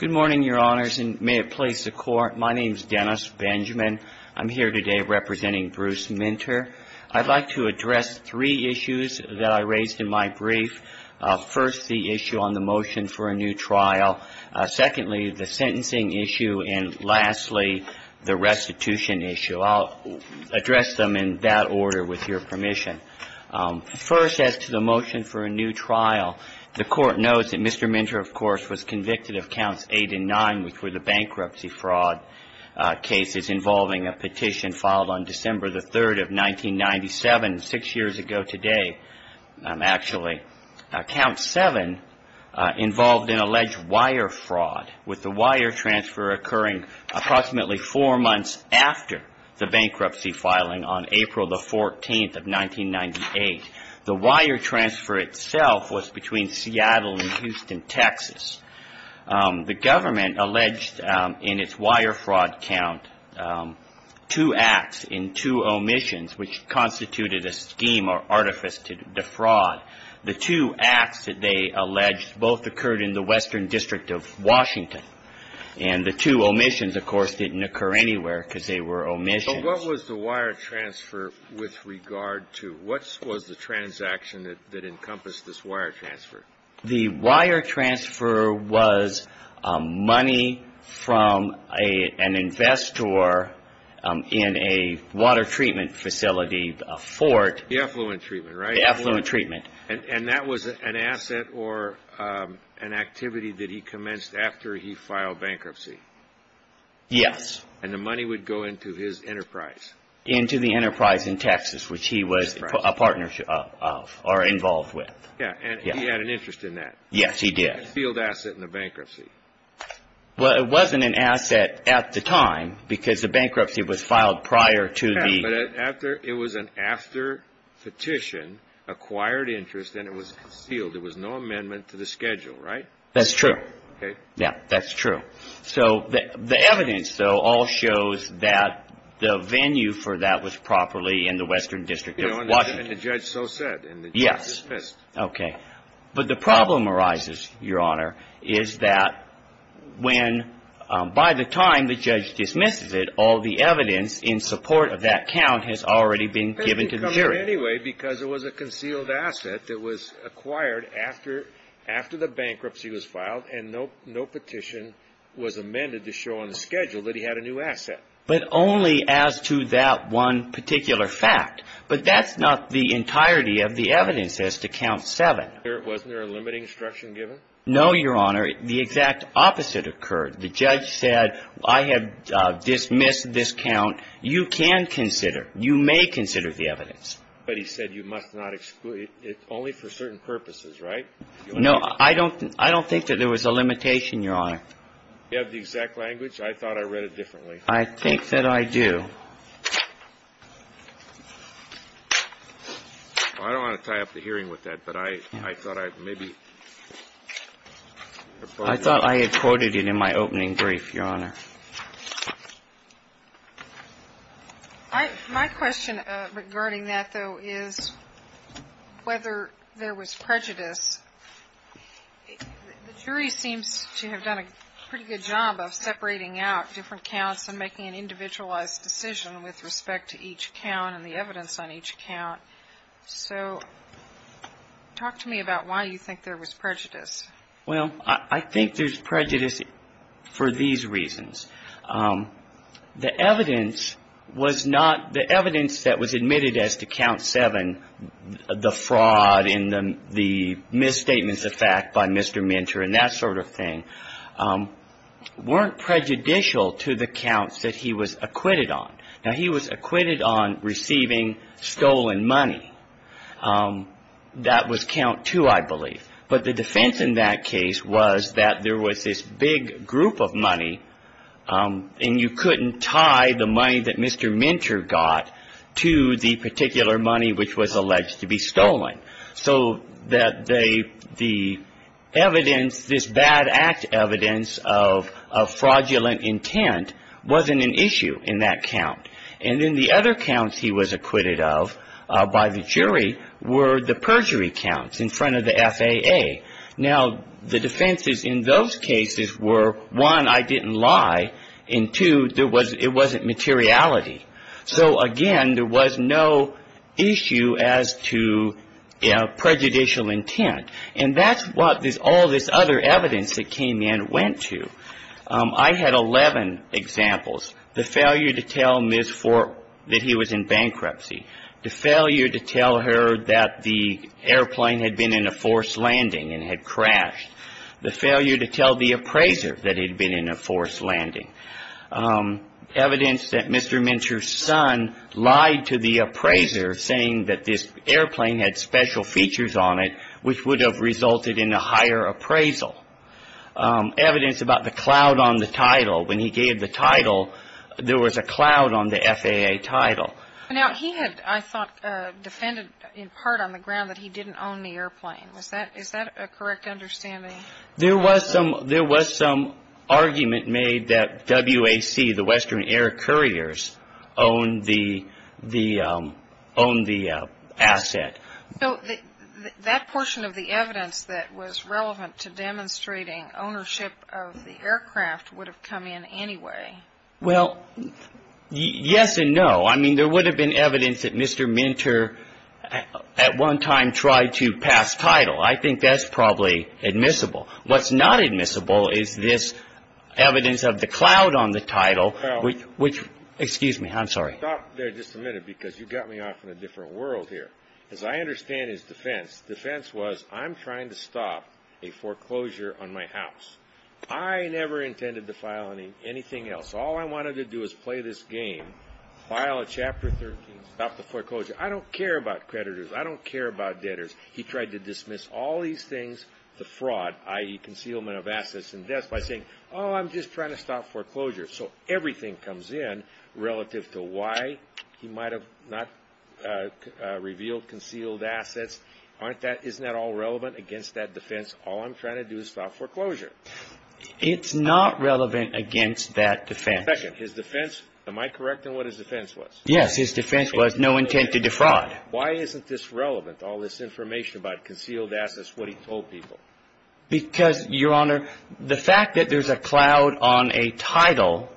Good morning, Your Honors, and may it please the Court, my name is Dennis Benjamin. I'm here today representing Bruce Minter. I'd like to address three issues that I raised in my brief. First, the issue on the motion for a new trial. Secondly, the sentencing issue, and lastly, the restitution issue. I'll address them in that order with your permission. First, as to the motion for a new trial, the Court knows that Mr. Minter, of course, was convicted of counts eight and nine, which were the bankruptcy fraud cases involving a petition filed on December 3, 1997, six years ago today, actually. Count seven involved an alleged wire fraud, with the wire transfer occurring approximately four months after the bankruptcy filing on April 14, 1998. The wire transfer itself was between Seattle and Houston, Texas. The government alleged in its wire fraud count two acts in two omissions, which constituted a scheme or artifice to defraud. The two acts that they alleged both occurred in the Western District of Washington, and the two omissions, of course, didn't occur anywhere because they were omissions. So what was the wire transfer with regard to? What was the transaction that encompassed this wire transfer? The wire transfer was money from an investor in a water treatment facility, a fort. The effluent treatment, right? The effluent treatment. And that was an asset or an activity that he commenced after he filed bankruptcy? Yes. And the money would go into his enterprise? Into the enterprise in Texas, which he was a partner of, or involved with. Yeah, and he had an interest in that? Yes, he did. Concealed asset in the bankruptcy? Well, it wasn't an asset at the time, because the bankruptcy was filed prior to the... Yeah, but it was an after petition, acquired interest, and it was concealed. There was no amendment to the schedule, right? That's true. Okay. Yeah, that's true. So the evidence, though, all shows that the venue for that was properly in the Western District of Washington. And the judge so said. Yes. It was dismissed. Okay. But the problem arises, Your Honor, is that when, by the time the judge dismisses it, all the evidence in support of that count has already been given to the jury. It didn't come anyway, because it was a concealed asset that was acquired after the bankruptcy was filed, and no petition was amended to show on the schedule that he had a new asset. But only as to that one particular fact. But that's not the entirety of the evidence as to Count 7. Wasn't there a limiting instruction given? No, Your Honor. The exact opposite occurred. The judge said, I have dismissed this count. You can consider, you may consider the evidence. But he said you must not exclude it, only for certain purposes, right? No, I don't think that there was a limitation, Your Honor. You have the exact language? I thought I read it differently. I think that I do. Well, I don't want to tie up the hearing with that, but I thought I'd maybe oppose it. I thought I had quoted it in my opening brief, Your Honor. My question regarding that, though, is whether there was prejudice. The jury seems to have done a pretty good job of separating out different counts and making an individualized decision with respect to each count and the evidence on each count. So talk to me about why you think there was prejudice. Well, I think there's prejudice for these reasons. The evidence was not, the evidence that was admitted as to Count 7, the fraud and the misstatements of fact by Mr. Minter and that sort of thing, weren't prejudicial to the counts that he was acquitted on. Now, he was acquitted on receiving stolen money. That was Count 2, I believe. But the defense in that case was that there was this big group of money, and you couldn't tie the money that Mr. Minter got to the particular money which was alleged to be stolen. So that the evidence, this bad act evidence of fraudulent intent wasn't an issue in that count. And then the other counts he was acquitted of by the jury were the perjury counts in front of the FAA. Now, the defenses in those cases were, one, I didn't lie, and two, it wasn't materiality. So, again, there was no issue as to prejudicial intent. And that's what all this other evidence that came in went to. I had 11 examples. The failure to tell Ms. Fork that he was in bankruptcy. The failure to tell her that the airplane had been in a forced landing and had crashed. The failure to tell the appraiser that he'd been in a forced landing. Evidence that Mr. Minter's son lied to the appraiser, saying that this airplane had special features on it, which would have resulted in a higher appraisal. Evidence about the cloud on the title. When he gave the title, there was a cloud on the FAA title. Now, he had, I thought, defended in part on the ground that he didn't own the airplane. Is that a correct understanding? There was some argument made that WAC, the Western Air Couriers, owned the asset. So, that portion of the evidence that was relevant to demonstrating ownership of the aircraft would have come in anyway. Well, yes and no. I mean, there would have been evidence that Mr. Minter at one time tried to pass title. I think that's probably admissible. What's not admissible is this evidence of the cloud on the title, which, excuse me, I'm sorry. Stop there just a minute, because you got me off in a different world here. As I understand his defense, defense was, I'm trying to stop a foreclosure on my house. I never intended to file anything else. All I wanted to do was play this game, file a Chapter 13, stop the foreclosure. I don't care about creditors. I don't care about debtors. He tried to dismiss all these things, the fraud, i.e., concealment of assets and debts, by saying, oh, I'm just trying to stop foreclosure. So, everything comes in relative to why he might have not revealed concealed assets. Isn't that all relevant against that defense? All I'm trying to do is stop foreclosure. It's not relevant against that defense. Second, his defense, am I correct in what his defense was? Yes, his defense was no intent to defraud. Why isn't this relevant, all this information about concealed assets, what he told people? Because, Your Honor, the fact that there's a cloud on a title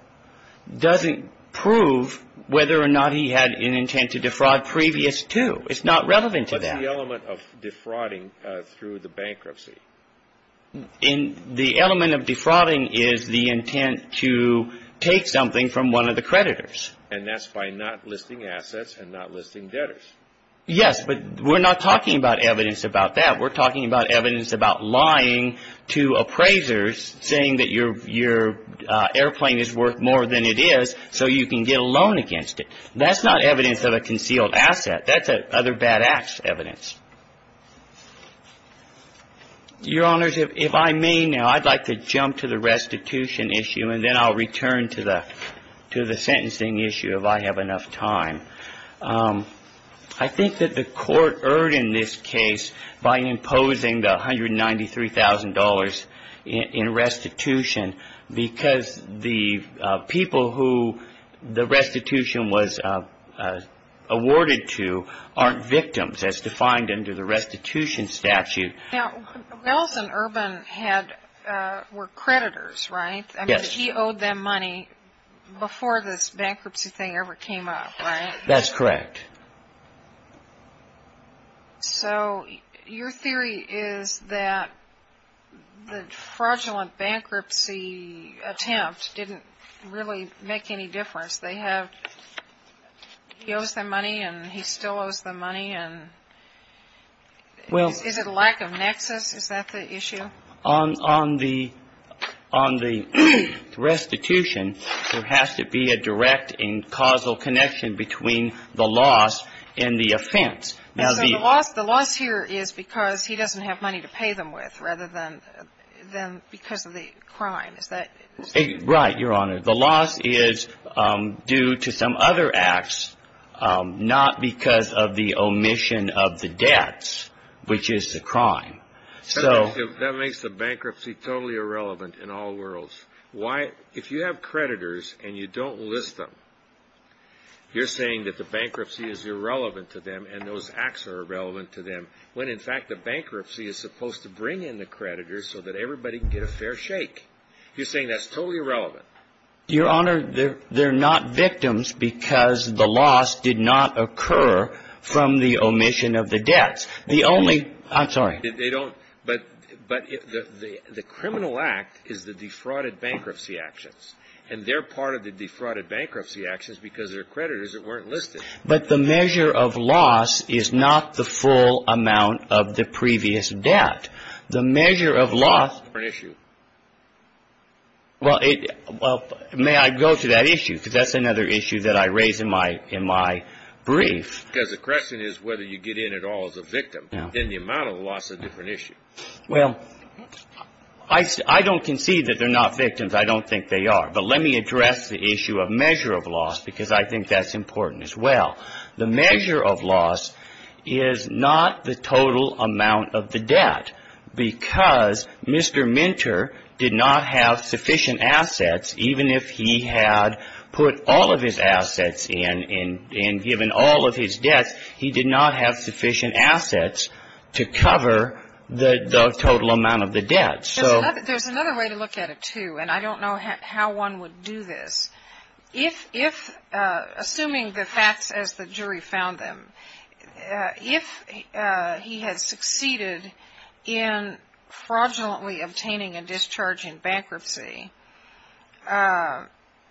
doesn't prove whether or not he had an intent to defraud previous to. It's not relevant to that. What's the element of defrauding through the bankruptcy? The element of defrauding is the intent to take something from one of the creditors. And that's by not listing assets and not listing debtors. Yes, but we're not talking about evidence about that. We're talking about evidence about lying to appraisers, saying that your airplane is worth more than it is, so you can get a loan against it. That's not evidence of a concealed asset. That's other bad-ass evidence. Your Honors, if I may now, I'd like to jump to the restitution issue, and then I'll return to the sentencing issue, if I have enough time. I think that the Court erred in this case by imposing the $193,000 in restitution, because the people who the restitution was awarded to aren't victims, as defined under the restitution statute. Now, Wells and Urban were creditors, right? Yes. I mean, he owed them money before this bankruptcy thing ever came up, right? That's correct. So your theory is that the fraudulent bankruptcy attempt didn't really make any difference. They have – he owes them money, and he still owes them money, and is it lack of nexus? Is that the issue? On the restitution, there has to be a direct and causal connection between the loss and the offense. Now, the – So the loss here is because he doesn't have money to pay them with, rather than because of the crime. Is that – Right, Your Honor. The loss is due to some other acts, not because of the omission of the debts, which is the crime. So – That makes the bankruptcy totally irrelevant in all worlds. Why – if you have creditors and you don't list them, you're saying that the bankruptcy is irrelevant to them and those acts are irrelevant to them, when, in fact, the bankruptcy is supposed to bring in the creditors so that everybody can get a fair shake. You're saying that's totally irrelevant. Your Honor, they're not victims because the loss did not occur from the omission of the debts. The only – I'm sorry. They don't – but the criminal act is the defrauded bankruptcy actions. And they're part of the defrauded bankruptcy actions because they're creditors that weren't listed. But the measure of loss is not the full amount of the previous debt. The measure of loss – That's a different issue. Well, may I go to that issue? Because that's another issue that I raise in my brief. Because the question is whether you get in at all as a victim. Yeah. And then the amount of loss is a different issue. Well, I don't concede that they're not victims. I don't think they are. But let me address the issue of measure of loss because I think that's important as well. The measure of loss is not the total amount of the debt because Mr. Minter did not have sufficient assets, even if he had put all of his assets in and given all of his debts, he did not have sufficient assets to cover the total amount of the debt. So – There's another way to look at it, too, and I don't know how one would do this. If – assuming the facts as the jury found them, if he had succeeded in fraudulently obtaining a discharge in bankruptcy,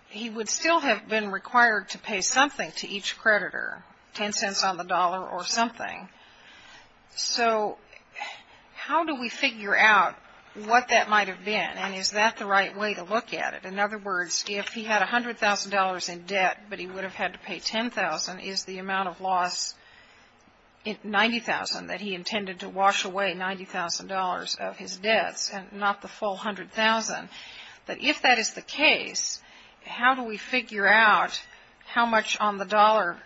he would still have been required to pay something to each creditor, 10 cents on the dollar or something. So how do we figure out what that might have been and is that the right way to look at it? In other words, if he had $100,000 in debt but he would have had to pay $10,000, is the amount of loss $90,000 that he intended to wash away $90,000 of his debts and not the full $100,000? But if that is the case, how do we figure out how much on the dollar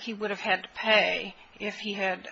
he would have had to pay if he had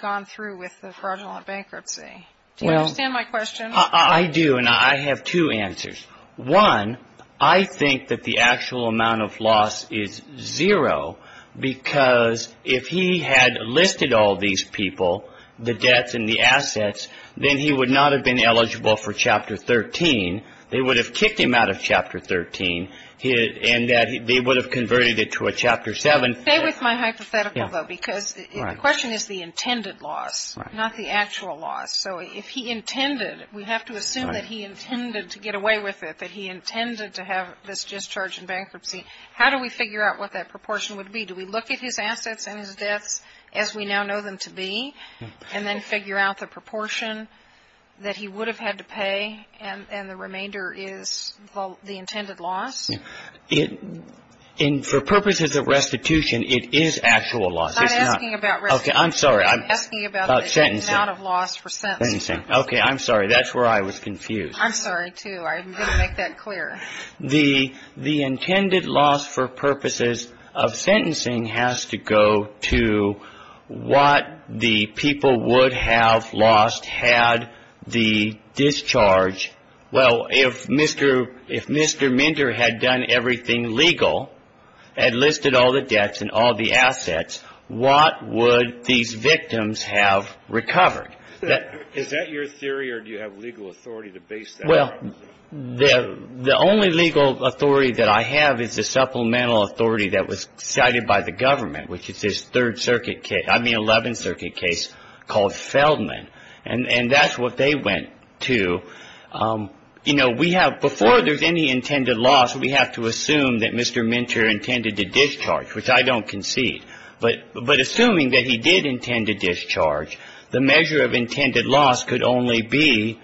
gone through with the fraudulent bankruptcy? Do you understand my question? I do, and I have two answers. One, I think that the actual amount of loss is zero because if he had listed all these people, the debts and the assets, then he would not have been eligible for Chapter 13. They would have kicked him out of Chapter 13 and they would have converted it to a Chapter 7. Stay with my hypothetical, though, because the question is the intended loss, not the actual loss. So if he intended, we have to assume that he intended to get away with it, that he intended to have this discharge in bankruptcy. How do we figure out what that proportion would be? Do we look at his assets and his debts as we now know them to be and then figure out the amount that he would have had to pay and the remainder is the intended loss? For purposes of restitution, it is actual loss. I'm not asking about restitution. Okay, I'm sorry. I'm asking about the amount of loss for sentencing. Okay, I'm sorry. That's where I was confused. I'm sorry, too. I'm going to make that clear. The intended loss for purposes of sentencing has to go to what the people would have lost had the discharge, well, if Mr. Minter had done everything legal, had listed all the debts and all the assets, what would these victims have recovered? Is that your theory or do you have legal authority to base that? Well, the only legal authority that I have is a supplemental authority that was cited by the government, which is this Third Circuit case, I mean, Seventh Circuit case called Feldman, and that's what they went to. You know, we have, before there's any intended loss, we have to assume that Mr. Minter intended to discharge, which I don't concede. But assuming that he did intend to discharge, the measure of intended loss could only be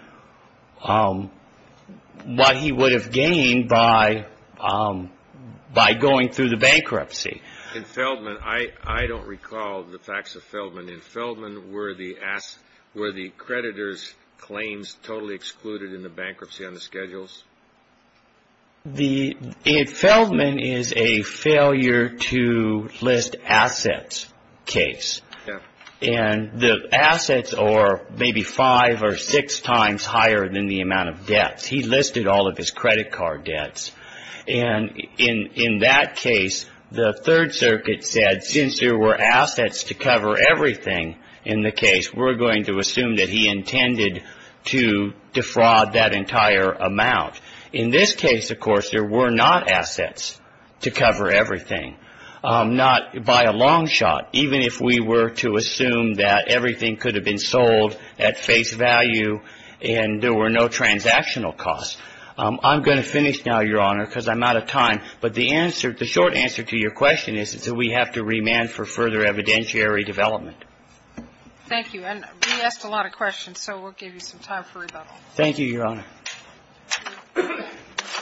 what he would have gained by going through the bankruptcy. In Feldman, I don't recall the facts of Feldman. In Feldman, were the creditor's claims totally excluded in the bankruptcy on the schedules? In Feldman is a failure to list assets case. And the assets are maybe five or six times higher than the amount of debts. He listed all of his credit card debts. And in that case, the Third Circuit said, since there were assets to cover everything in the case, we're going to assume that he intended to defraud that entire amount. In this case, of course, there were not assets to cover everything, not by a long shot, even if we were to assume that everything could have been sold at face value and there were no transactional costs. I'm going to finish now, Your Honor, because I'm out of time. But the short answer to your question is that we have to remand for further evidentiary development. Thank you. And we asked a lot of questions, so we'll give you some time for rebuttal. Thank you, Your Honor.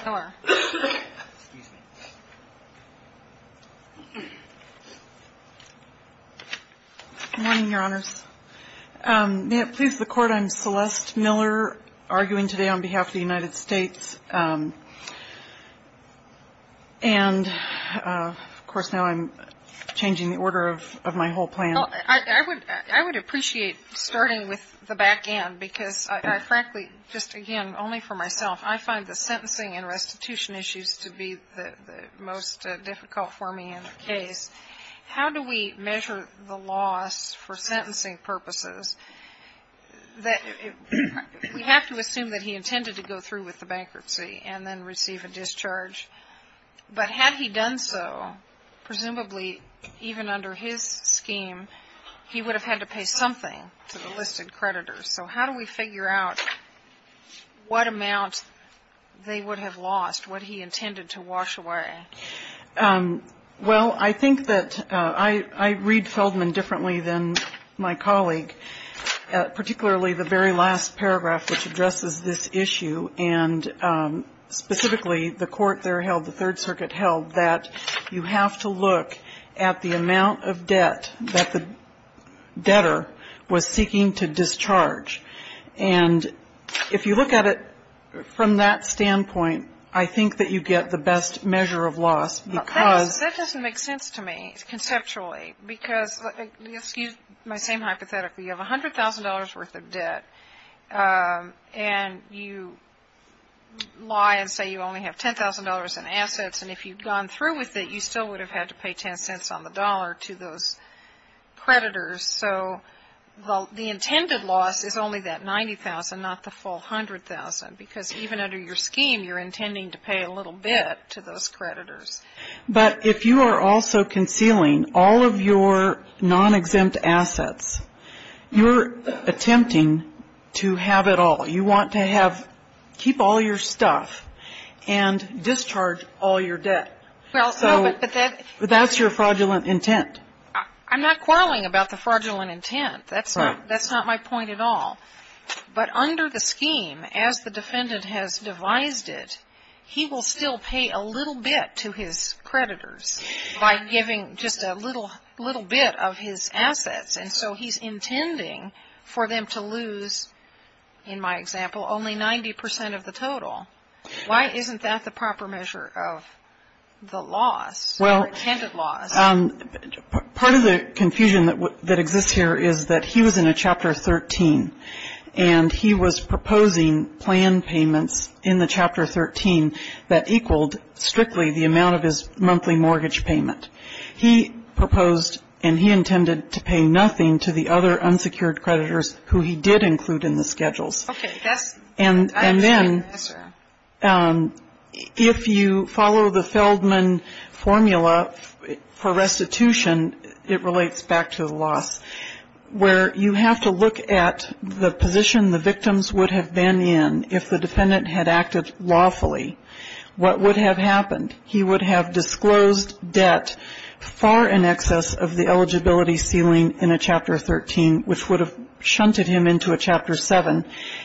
Miller. Excuse me. Good morning, Your Honors. May it please the Court, I'm Celeste Miller, arguing today on behalf of the United States. And, of course, now I'm changing the order of my whole plan. I would appreciate starting with the back end, because I frankly, just again, only for myself, I find the sentencing and restitution issues to be the most difficult for me in the case. How do we measure the loss for sentencing purposes? We have to assume that he intended to go through with the bankruptcy and then receive a discharge. But had he done so, presumably even under his scheme, he would have had to pay something to the listed creditors. So how do we figure out what amount they would have lost, what he intended to wash away? Well, I think that I read Feldman differently than my colleague, particularly the very last paragraph, which addresses this issue. And specifically, the court there held, the Third Circuit held, that you have to look at the amount of debt that the debtor was seeking to discharge. And if you look at it from that standpoint, I think that you get the best measure of loss. That doesn't make sense to me, conceptually. Because, excuse my same hypothetical, you have $100,000 worth of debt, and you lie and say you only have $10,000 in assets. And if you'd gone through with it, you still would have had to pay $0.10 on the dollar to those creditors. So the intended loss is only that $90,000, not the full $100,000. Because even under your scheme, you're intending to pay a little bit to those creditors. But if you are also concealing all of your non-exempt assets, you're attempting to have it all. You want to keep all your stuff and discharge all your debt. So that's your fraudulent intent. I'm not quarreling about the fraudulent intent. That's not my point at all. But under the scheme, as the defendant has devised it, he will still pay a little bit to his creditors by giving just a little bit of his assets. And so he's intending for them to lose, in my example, only 90 percent of the total. Why isn't that the proper measure of the loss, the intended loss? Well, part of the confusion that exists here is that he was in a Chapter 13, and he was proposing plan payments in the Chapter 13 that equaled strictly the amount of his monthly mortgage payment. He proposed, and he intended to pay nothing to the other unsecured creditors who he did include in the schedules. And then if you follow the Feldman formula for restitution, it relates back to the loss, where you have to look at the position the victims would have been in if the defendant had acted lawfully. What would have happened? He would have disclosed debt far in excess of the eligibility ceiling in a Chapter 13, which would have shunted him into a Chapter 7.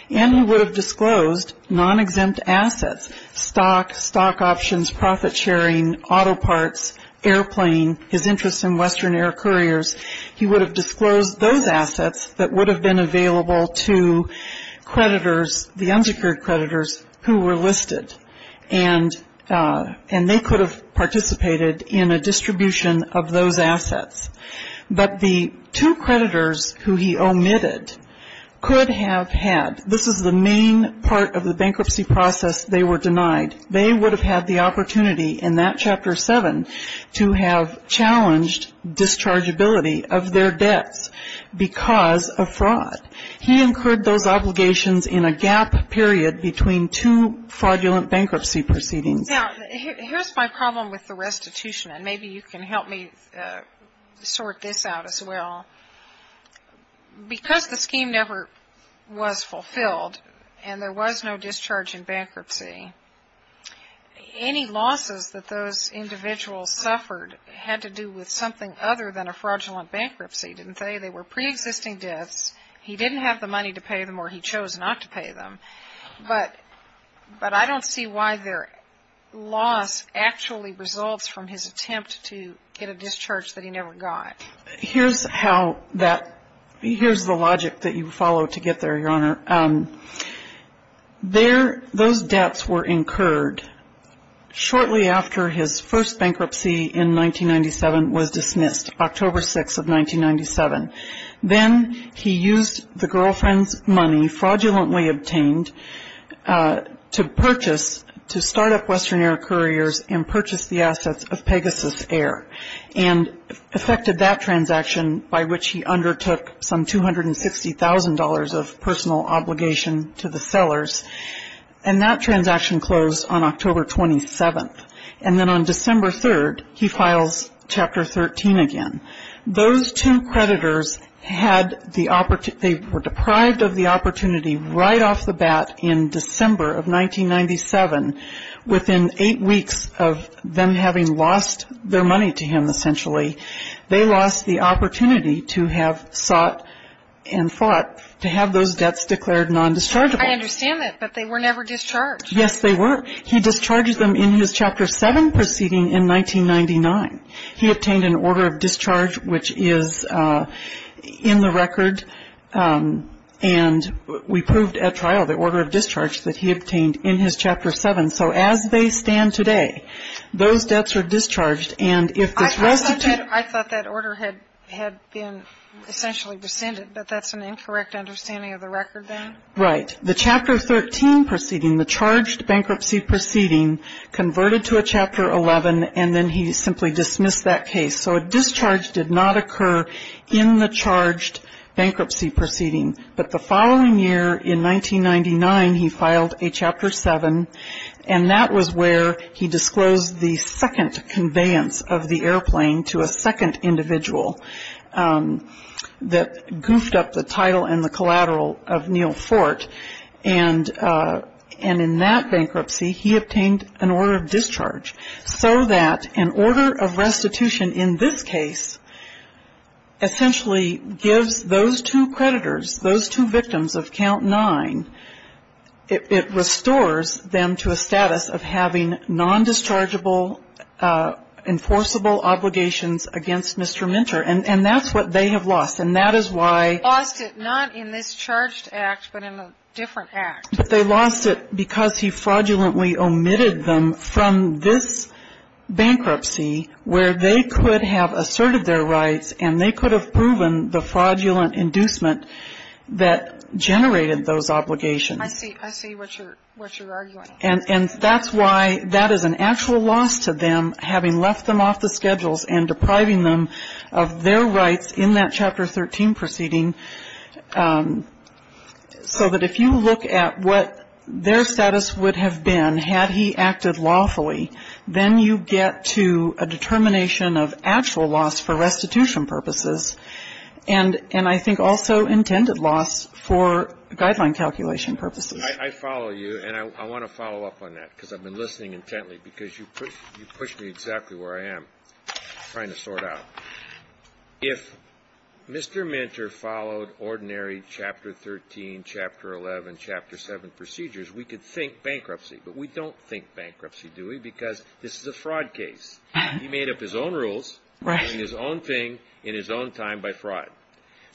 And he would have disclosed non-exempt assets, stock, stock options, profit sharing, auto parts, airplane, his interest in Western Air couriers. He would have disclosed those assets that would have been available to creditors, the unsecured creditors who were listed. And they could have participated in a distribution of those assets. But the two creditors who he omitted could have had, this is the main part of the bankruptcy process, they were denied. They would have had the opportunity in that Chapter 7 to have challenged dischargeability of their debts because of fraud. He incurred those obligations in a gap period between two fraudulent bankruptcy proceedings. Now, here's my problem with the restitution, and maybe you can help me sort this out as well. Because the scheme never was fulfilled and there was no discharge in bankruptcy, any losses that those individuals suffered had to do with something other than a fraudulent bankruptcy, didn't they? They were preexisting debts. He didn't have the money to pay them or he chose not to pay them. But I don't see why their loss actually results from his attempt to get a discharge that he never got. Here's how that, here's the logic that you follow to get there, Your Honor. Those debts were incurred shortly after his first bankruptcy in 1997 was dismissed, October 6th of 1997. Then he used the girlfriend's money, fraudulently obtained, to purchase, to start up Western Air Couriers and purchase the assets of Pegasus Air, and affected that transaction by which he undertook some $260,000 of personal obligation to the sellers. And that transaction closed on October 27th. And then on December 3rd, he files Chapter 13 again. Those two creditors had the, they were deprived of the opportunity right off the bat in December of 1997. Within eight weeks of them having lost their money to him, essentially, they lost the opportunity to have sought and fought to have those debts declared non-dischargeable. I understand that, but they were never discharged. Yes, they were. He discharged them in his Chapter 7 proceeding in 1999. He obtained an order of discharge, which is in the record, and we proved at trial the order of discharge that he obtained in his Chapter 7. So as they stand today, those debts are discharged. And if this restitution ---- I thought that order had been essentially rescinded, but that's an incorrect understanding of the record then? Right. The Chapter 13 proceeding, the charged bankruptcy proceeding, converted to a Chapter 11, and then he simply dismissed that case. So a discharge did not occur in the charged bankruptcy proceeding. But the following year in 1999, he filed a Chapter 7, and that was where he disclosed the second conveyance of the airplane to a second individual that and in that bankruptcy, he obtained an order of discharge. So that an order of restitution in this case essentially gives those two creditors, those two victims of Count 9, it restores them to a status of having non-dischargeable enforceable obligations against Mr. Minter. And that's what they have lost. And that is why ---- They lost it not in this charged act, but in a different act. But they lost it because he fraudulently omitted them from this bankruptcy where they could have asserted their rights and they could have proven the fraudulent inducement that generated those obligations. I see. I see what you're arguing. And that's why that is an actual loss to them, having left them off the schedules and depriving them of their rights in that Chapter 13 proceeding. So that if you look at what their status would have been had he acted lawfully, then you get to a determination of actual loss for restitution purposes and I think also intended loss for guideline calculation purposes. I follow you, and I want to follow up on that because I've been listening intently because you pushed me exactly where I am trying to sort out. If Mr. Minter followed ordinary Chapter 13, Chapter 11, Chapter 7 procedures, we could think bankruptcy. But we don't think bankruptcy, do we? Because this is a fraud case. He made up his own rules and his own thing in his own time by fraud.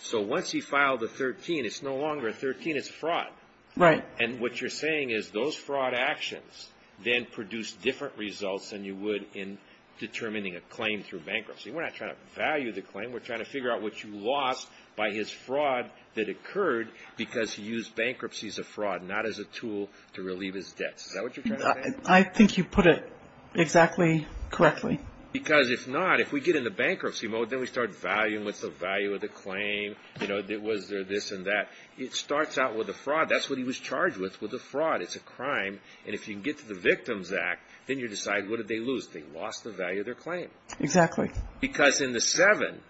So once he filed a 13, it's no longer a 13, it's a fraud. Right. And what you're saying is those fraud actions then produce different results than you would in determining a claim through bankruptcy. We're not trying to value the claim. We're trying to figure out what you lost by his fraud that occurred because he used bankruptcy as a fraud, not as a tool to relieve his debts. Is that what you're trying to say? I think you put it exactly correctly. Because if not, if we get in the bankruptcy mode, then we start valuing what's the value of the claim, you know, was there this and that. It starts out with a fraud. That's what he was charged with, with a fraud. It's a crime. And if you can get to the Victims Act, then you decide what did they lose. They lost the value of their claim. Exactly. Because in the 7,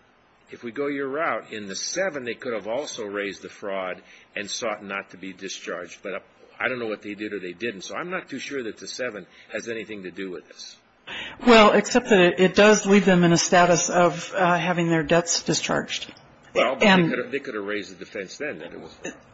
if we go your route, in the 7 they could have also raised the fraud and sought not to be discharged. But I don't know what they did or they didn't. So I'm not too sure that the 7 has anything to do with this. Well, except that it does leave them in a status of having their debts discharged. Well, they could have raised the defense then.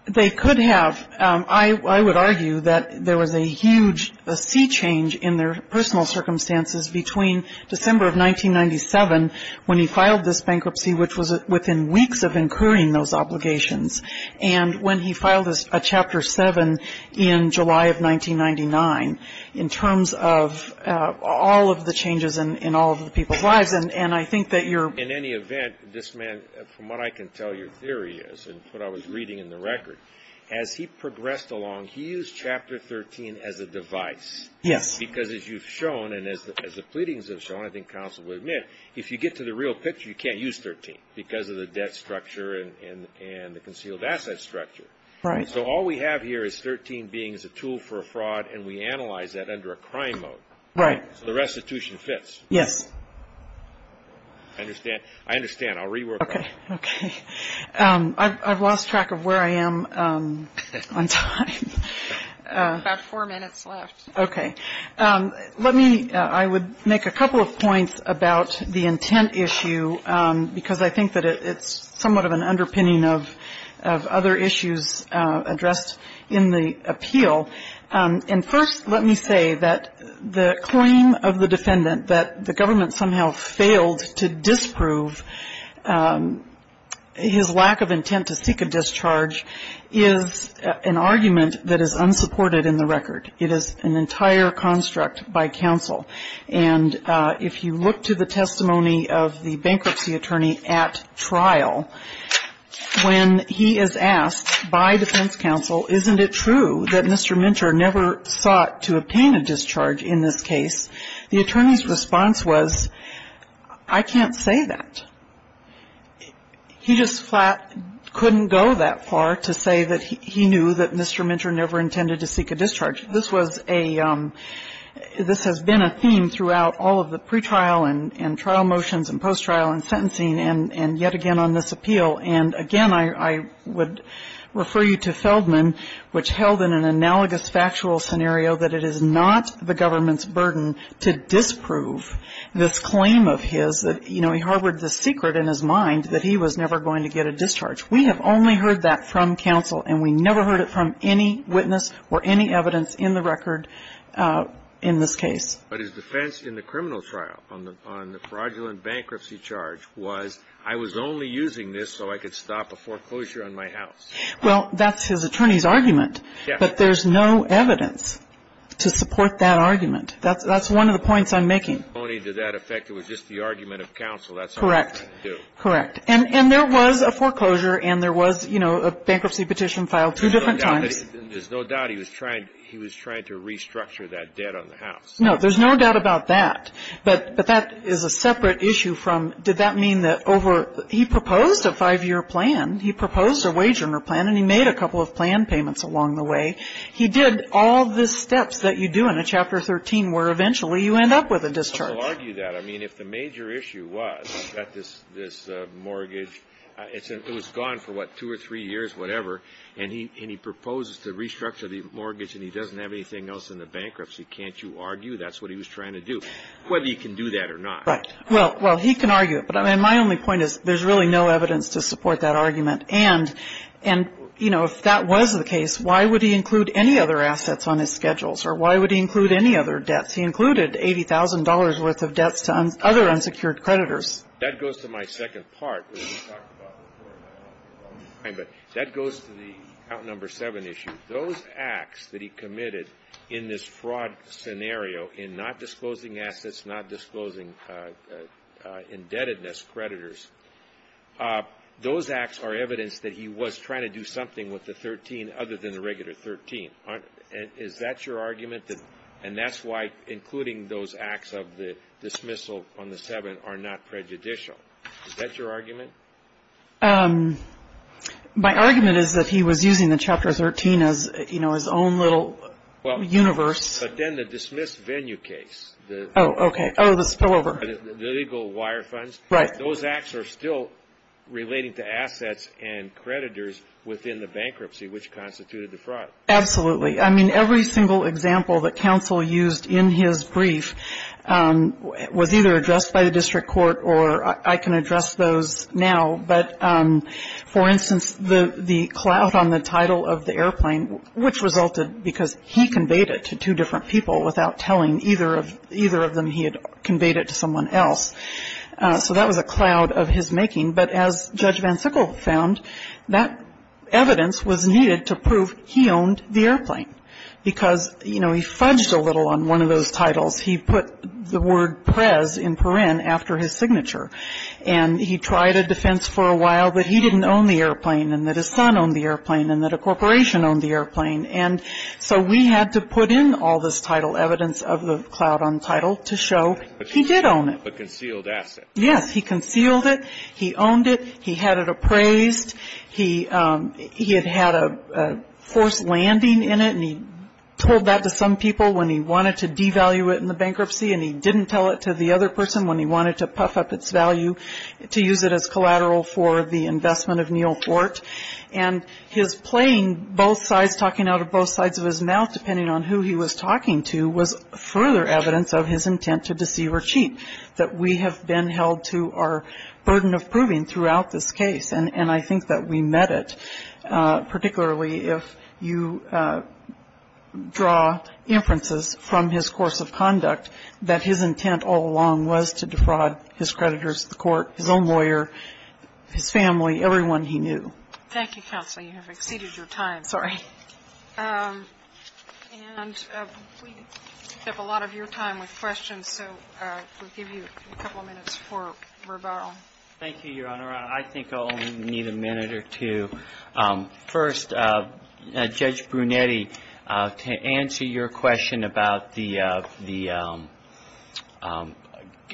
They could have. I would argue that there was a huge sea change in their personal circumstances between December of 1997 when he filed this bankruptcy, which was within weeks of incurring those obligations, and when he filed a Chapter 7 in July of 1999 in terms of all of the changes in all of the people's lives. Yes, and I think that you're In any event, this man, from what I can tell your theory is, and what I was reading in the record, as he progressed along, he used Chapter 13 as a device. Yes. Because as you've shown, and as the pleadings have shown, I think counsel will admit, if you get to the real picture, you can't use 13 because of the debt structure and the concealed asset structure. Right. So all we have here is 13 being a tool for a fraud, and we analyze that under a crime mode. Right. So the restitution fits. Yes. I understand. I understand. I'll rework that. Okay. Okay. I've lost track of where I am on time. About four minutes left. Okay. Let me – I would make a couple of points about the intent issue because I think that it's somewhat of an underpinning of other issues addressed in the appeal. And first, let me say that the claim of the defendant that the government somehow failed to disprove his lack of intent to seek a discharge is an argument that is unsupported in the record. It is an entire construct by counsel. And if you look to the testimony of the bankruptcy attorney at trial, when he is asked by defense counsel, isn't it true that Mr. Minter never sought to obtain a discharge in this case, the attorney's response was, I can't say that. He just flat couldn't go that far to say that he knew that Mr. Minter never intended to seek a discharge. This was a – this has been a theme throughout all of the pretrial and trial motions and post-trial and sentencing and yet again on this appeal. And again, I would refer you to Feldman, which held in an analogous factual scenario that it is not the government's burden to disprove this claim of his that, you know, he harbored this secret in his mind that he was never going to get a discharge. We have only heard that from counsel, and we never heard it from any witness or any evidence in the record in this case. But his defense in the criminal trial on the fraudulent bankruptcy charge was, I was only using this so I could stop a foreclosure on my house. Well, that's his attorney's argument. Yes. But there's no evidence to support that argument. That's one of the points I'm making. Only to that effect, it was just the argument of counsel. That's all I'm trying to do. Correct. Correct. And there was a foreclosure and there was, you know, a bankruptcy petition filed two different times. There's no doubt he was trying to restructure that debt on the house. No, there's no doubt about that. But that is a separate issue from did that mean that over he proposed a five-year plan, he proposed a wage earner plan, and he made a couple of plan payments along the way. He did all the steps that you do in a Chapter 13 where eventually you end up with a discharge. I will argue that. I mean, if the major issue was that this mortgage, it was gone for, what, two or three years, whatever, and he proposes to restructure the mortgage and he doesn't have anything else in the bankruptcy, can't you argue that's what he was trying to do? Whether he can do that or not. Right. Well, he can argue it. But my only point is there's really no evidence to support that argument. And, you know, if that was the case, why would he include any other assets on his schedules? Or why would he include any other debts? He included $80,000 worth of debts to other unsecured creditors. That goes to my second part. That goes to the count number seven issue. Those acts that he committed in this fraud scenario in not disclosing assets, not disclosing indebtedness creditors, those acts are evidence that he was trying to do something with the 13 other than the regular 13. Is that your argument? And that's why including those acts of the dismissal on the seven are not prejudicial. Is that your argument? My argument is that he was using the Chapter 13 as, you know, his own little universe. But then the dismiss venue case. Oh, okay. Oh, the spillover. The legal wire funds. Right. Those acts are still relating to assets and creditors within the bankruptcy, which constituted the fraud. Absolutely. I mean, every single example that counsel used in his brief was either addressed by the district court or I can address those now. But, for instance, the clout on the title of the airplane, which resulted because he conveyed it to two different people without telling either of them he had conveyed it to someone else. So that was a clout of his making. But as Judge VanSickle found, that evidence was needed to prove he owned the airplane because, you know, he fudged a little on one of those titles. He put the word prez in paren after his signature. And he tried a defense for a while that he didn't own the airplane and that his son owned the airplane and that a corporation owned the airplane. And so we had to put in all this title evidence of the clout on title to show he did own it. But concealed assets. Yes. He concealed it. He owned it. He had it appraised. He had had a forced landing in it. And he told that to some people when he wanted to devalue it in the bankruptcy. And he didn't tell it to the other person when he wanted to puff up its value to use it as collateral for the investment of Neal Fort. And his playing both sides, talking out of both sides of his mouth, depending on who he was talking to, was further evidence of his intent to deceive or cheat that we have been held to our burden of proving throughout this case. And I think that we met it, particularly if you draw inferences from his course of conduct that his intent all along was to defraud his creditors, the court, his own lawyer, his family, everyone he knew. Thank you, counsel. You have exceeded your time. Sorry. And we picked up a lot of your time with questions. So we'll give you a couple of minutes for rebuttal. Thank you, Your Honor. I think I'll only need a minute or two. First, Judge Brunetti, to answer your question about the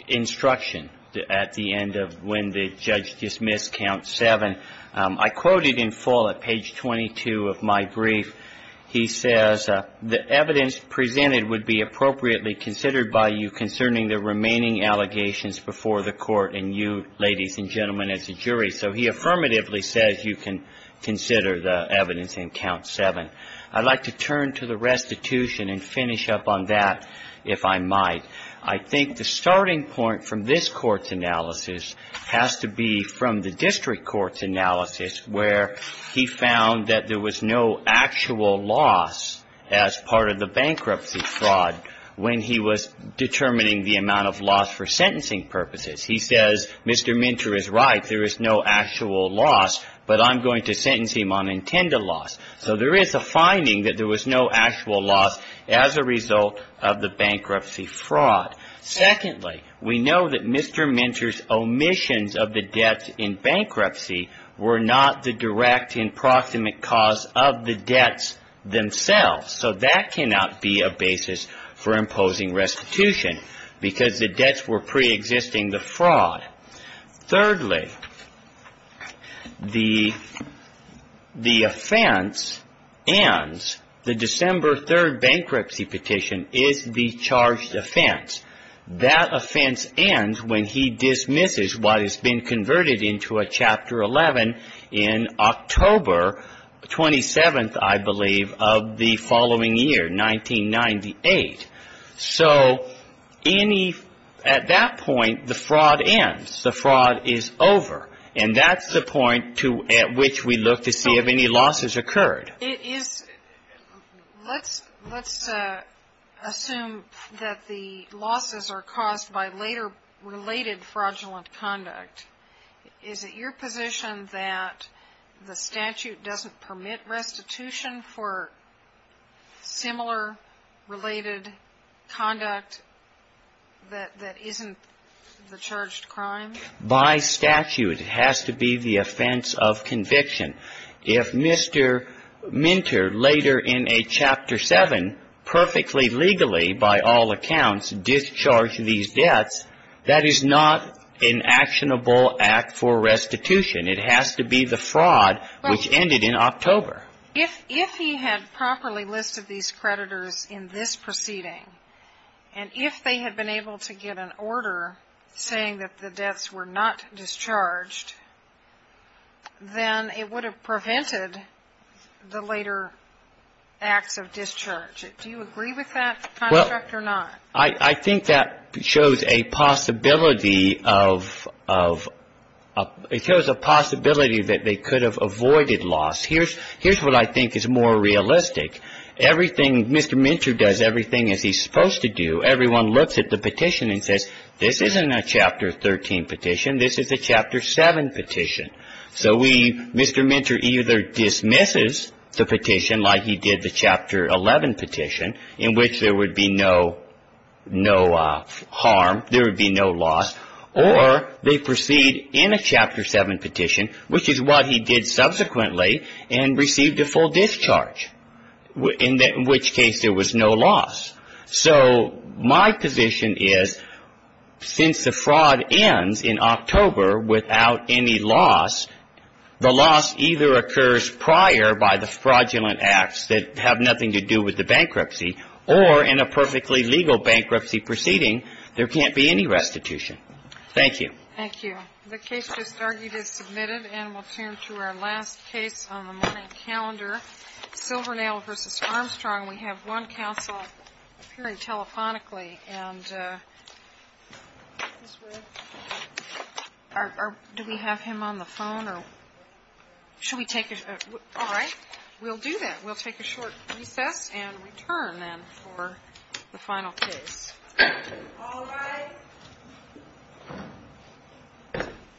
instruction at the end of when the judge dismissed count 7, I quoted in full at page 22 of my brief. He says, The evidence presented would be appropriately considered by you concerning the remaining allegations before the court and you, ladies and gentlemen, as a jury. So he affirmatively says you can consider the evidence in count 7. I'd like to turn to the restitution and finish up on that, if I might. I think the starting point from this Court's analysis has to be from the District Court's analysis, where he found that there was no actual loss as part of the amount of loss for sentencing purposes. He says Mr. Minter is right. There is no actual loss, but I'm going to sentence him on intended loss. So there is a finding that there was no actual loss as a result of the bankruptcy fraud. Secondly, we know that Mr. Minter's omissions of the debts in bankruptcy were not the direct and proximate cause of the debts themselves. So that cannot be a basis for imposing restitution because the debts were pre-existing the fraud. Thirdly, the offense ends, the December 3rd bankruptcy petition is the charged offense. That offense ends when he dismisses what has been converted into a Chapter 11 in October 27th, I believe, of the following year, 1998. So at that point, the fraud ends. The fraud is over. And that's the point at which we look to see if any losses occurred. Let's assume that the losses are caused by later related fraudulent conduct. Is it your position that the statute doesn't permit restitution for similar related conduct that isn't the charged crime? By statute, it has to be the offense of conviction. If Mr. Minter later in a Chapter 7 perfectly legally, by all accounts, discharged these debts, that is not an actionable act for restitution. It has to be the fraud which ended in October. If he had properly listed these creditors in this proceeding, and if they had been able to get an order saying that the debts were not discharged, then it would have prevented the later acts of discharge. Do you agree with that construct or not? I think that shows a possibility of, it shows a possibility that they could have avoided loss. Here's what I think is more realistic. Everything, Mr. Minter does everything as he's supposed to do. Everyone looks at the petition and says, this isn't a Chapter 13 petition. This is a Chapter 7 petition. So we, Mr. Minter either dismisses the petition like he did the Chapter 11 petition, in which there would be no harm, there would be no loss, or they proceed in a Chapter 7 petition, which is what he did subsequently and received a full discharge, in which case there was no loss. So my position is, since the fraud ends in October without any loss, the loss either occurs prior by the fraudulent acts that have nothing to do with the bankruptcy, or in a perfectly legal bankruptcy proceeding, there can't be any restitution. Thank you. Thank you. The case just argued is submitted, and we'll turn to our last case on the morning calendar, Silvernail v. Armstrong. We have one counsel appearing telephonically. Do we have him on the phone? All right. We'll do that. We'll take a short recess and return then for the final case. All rise.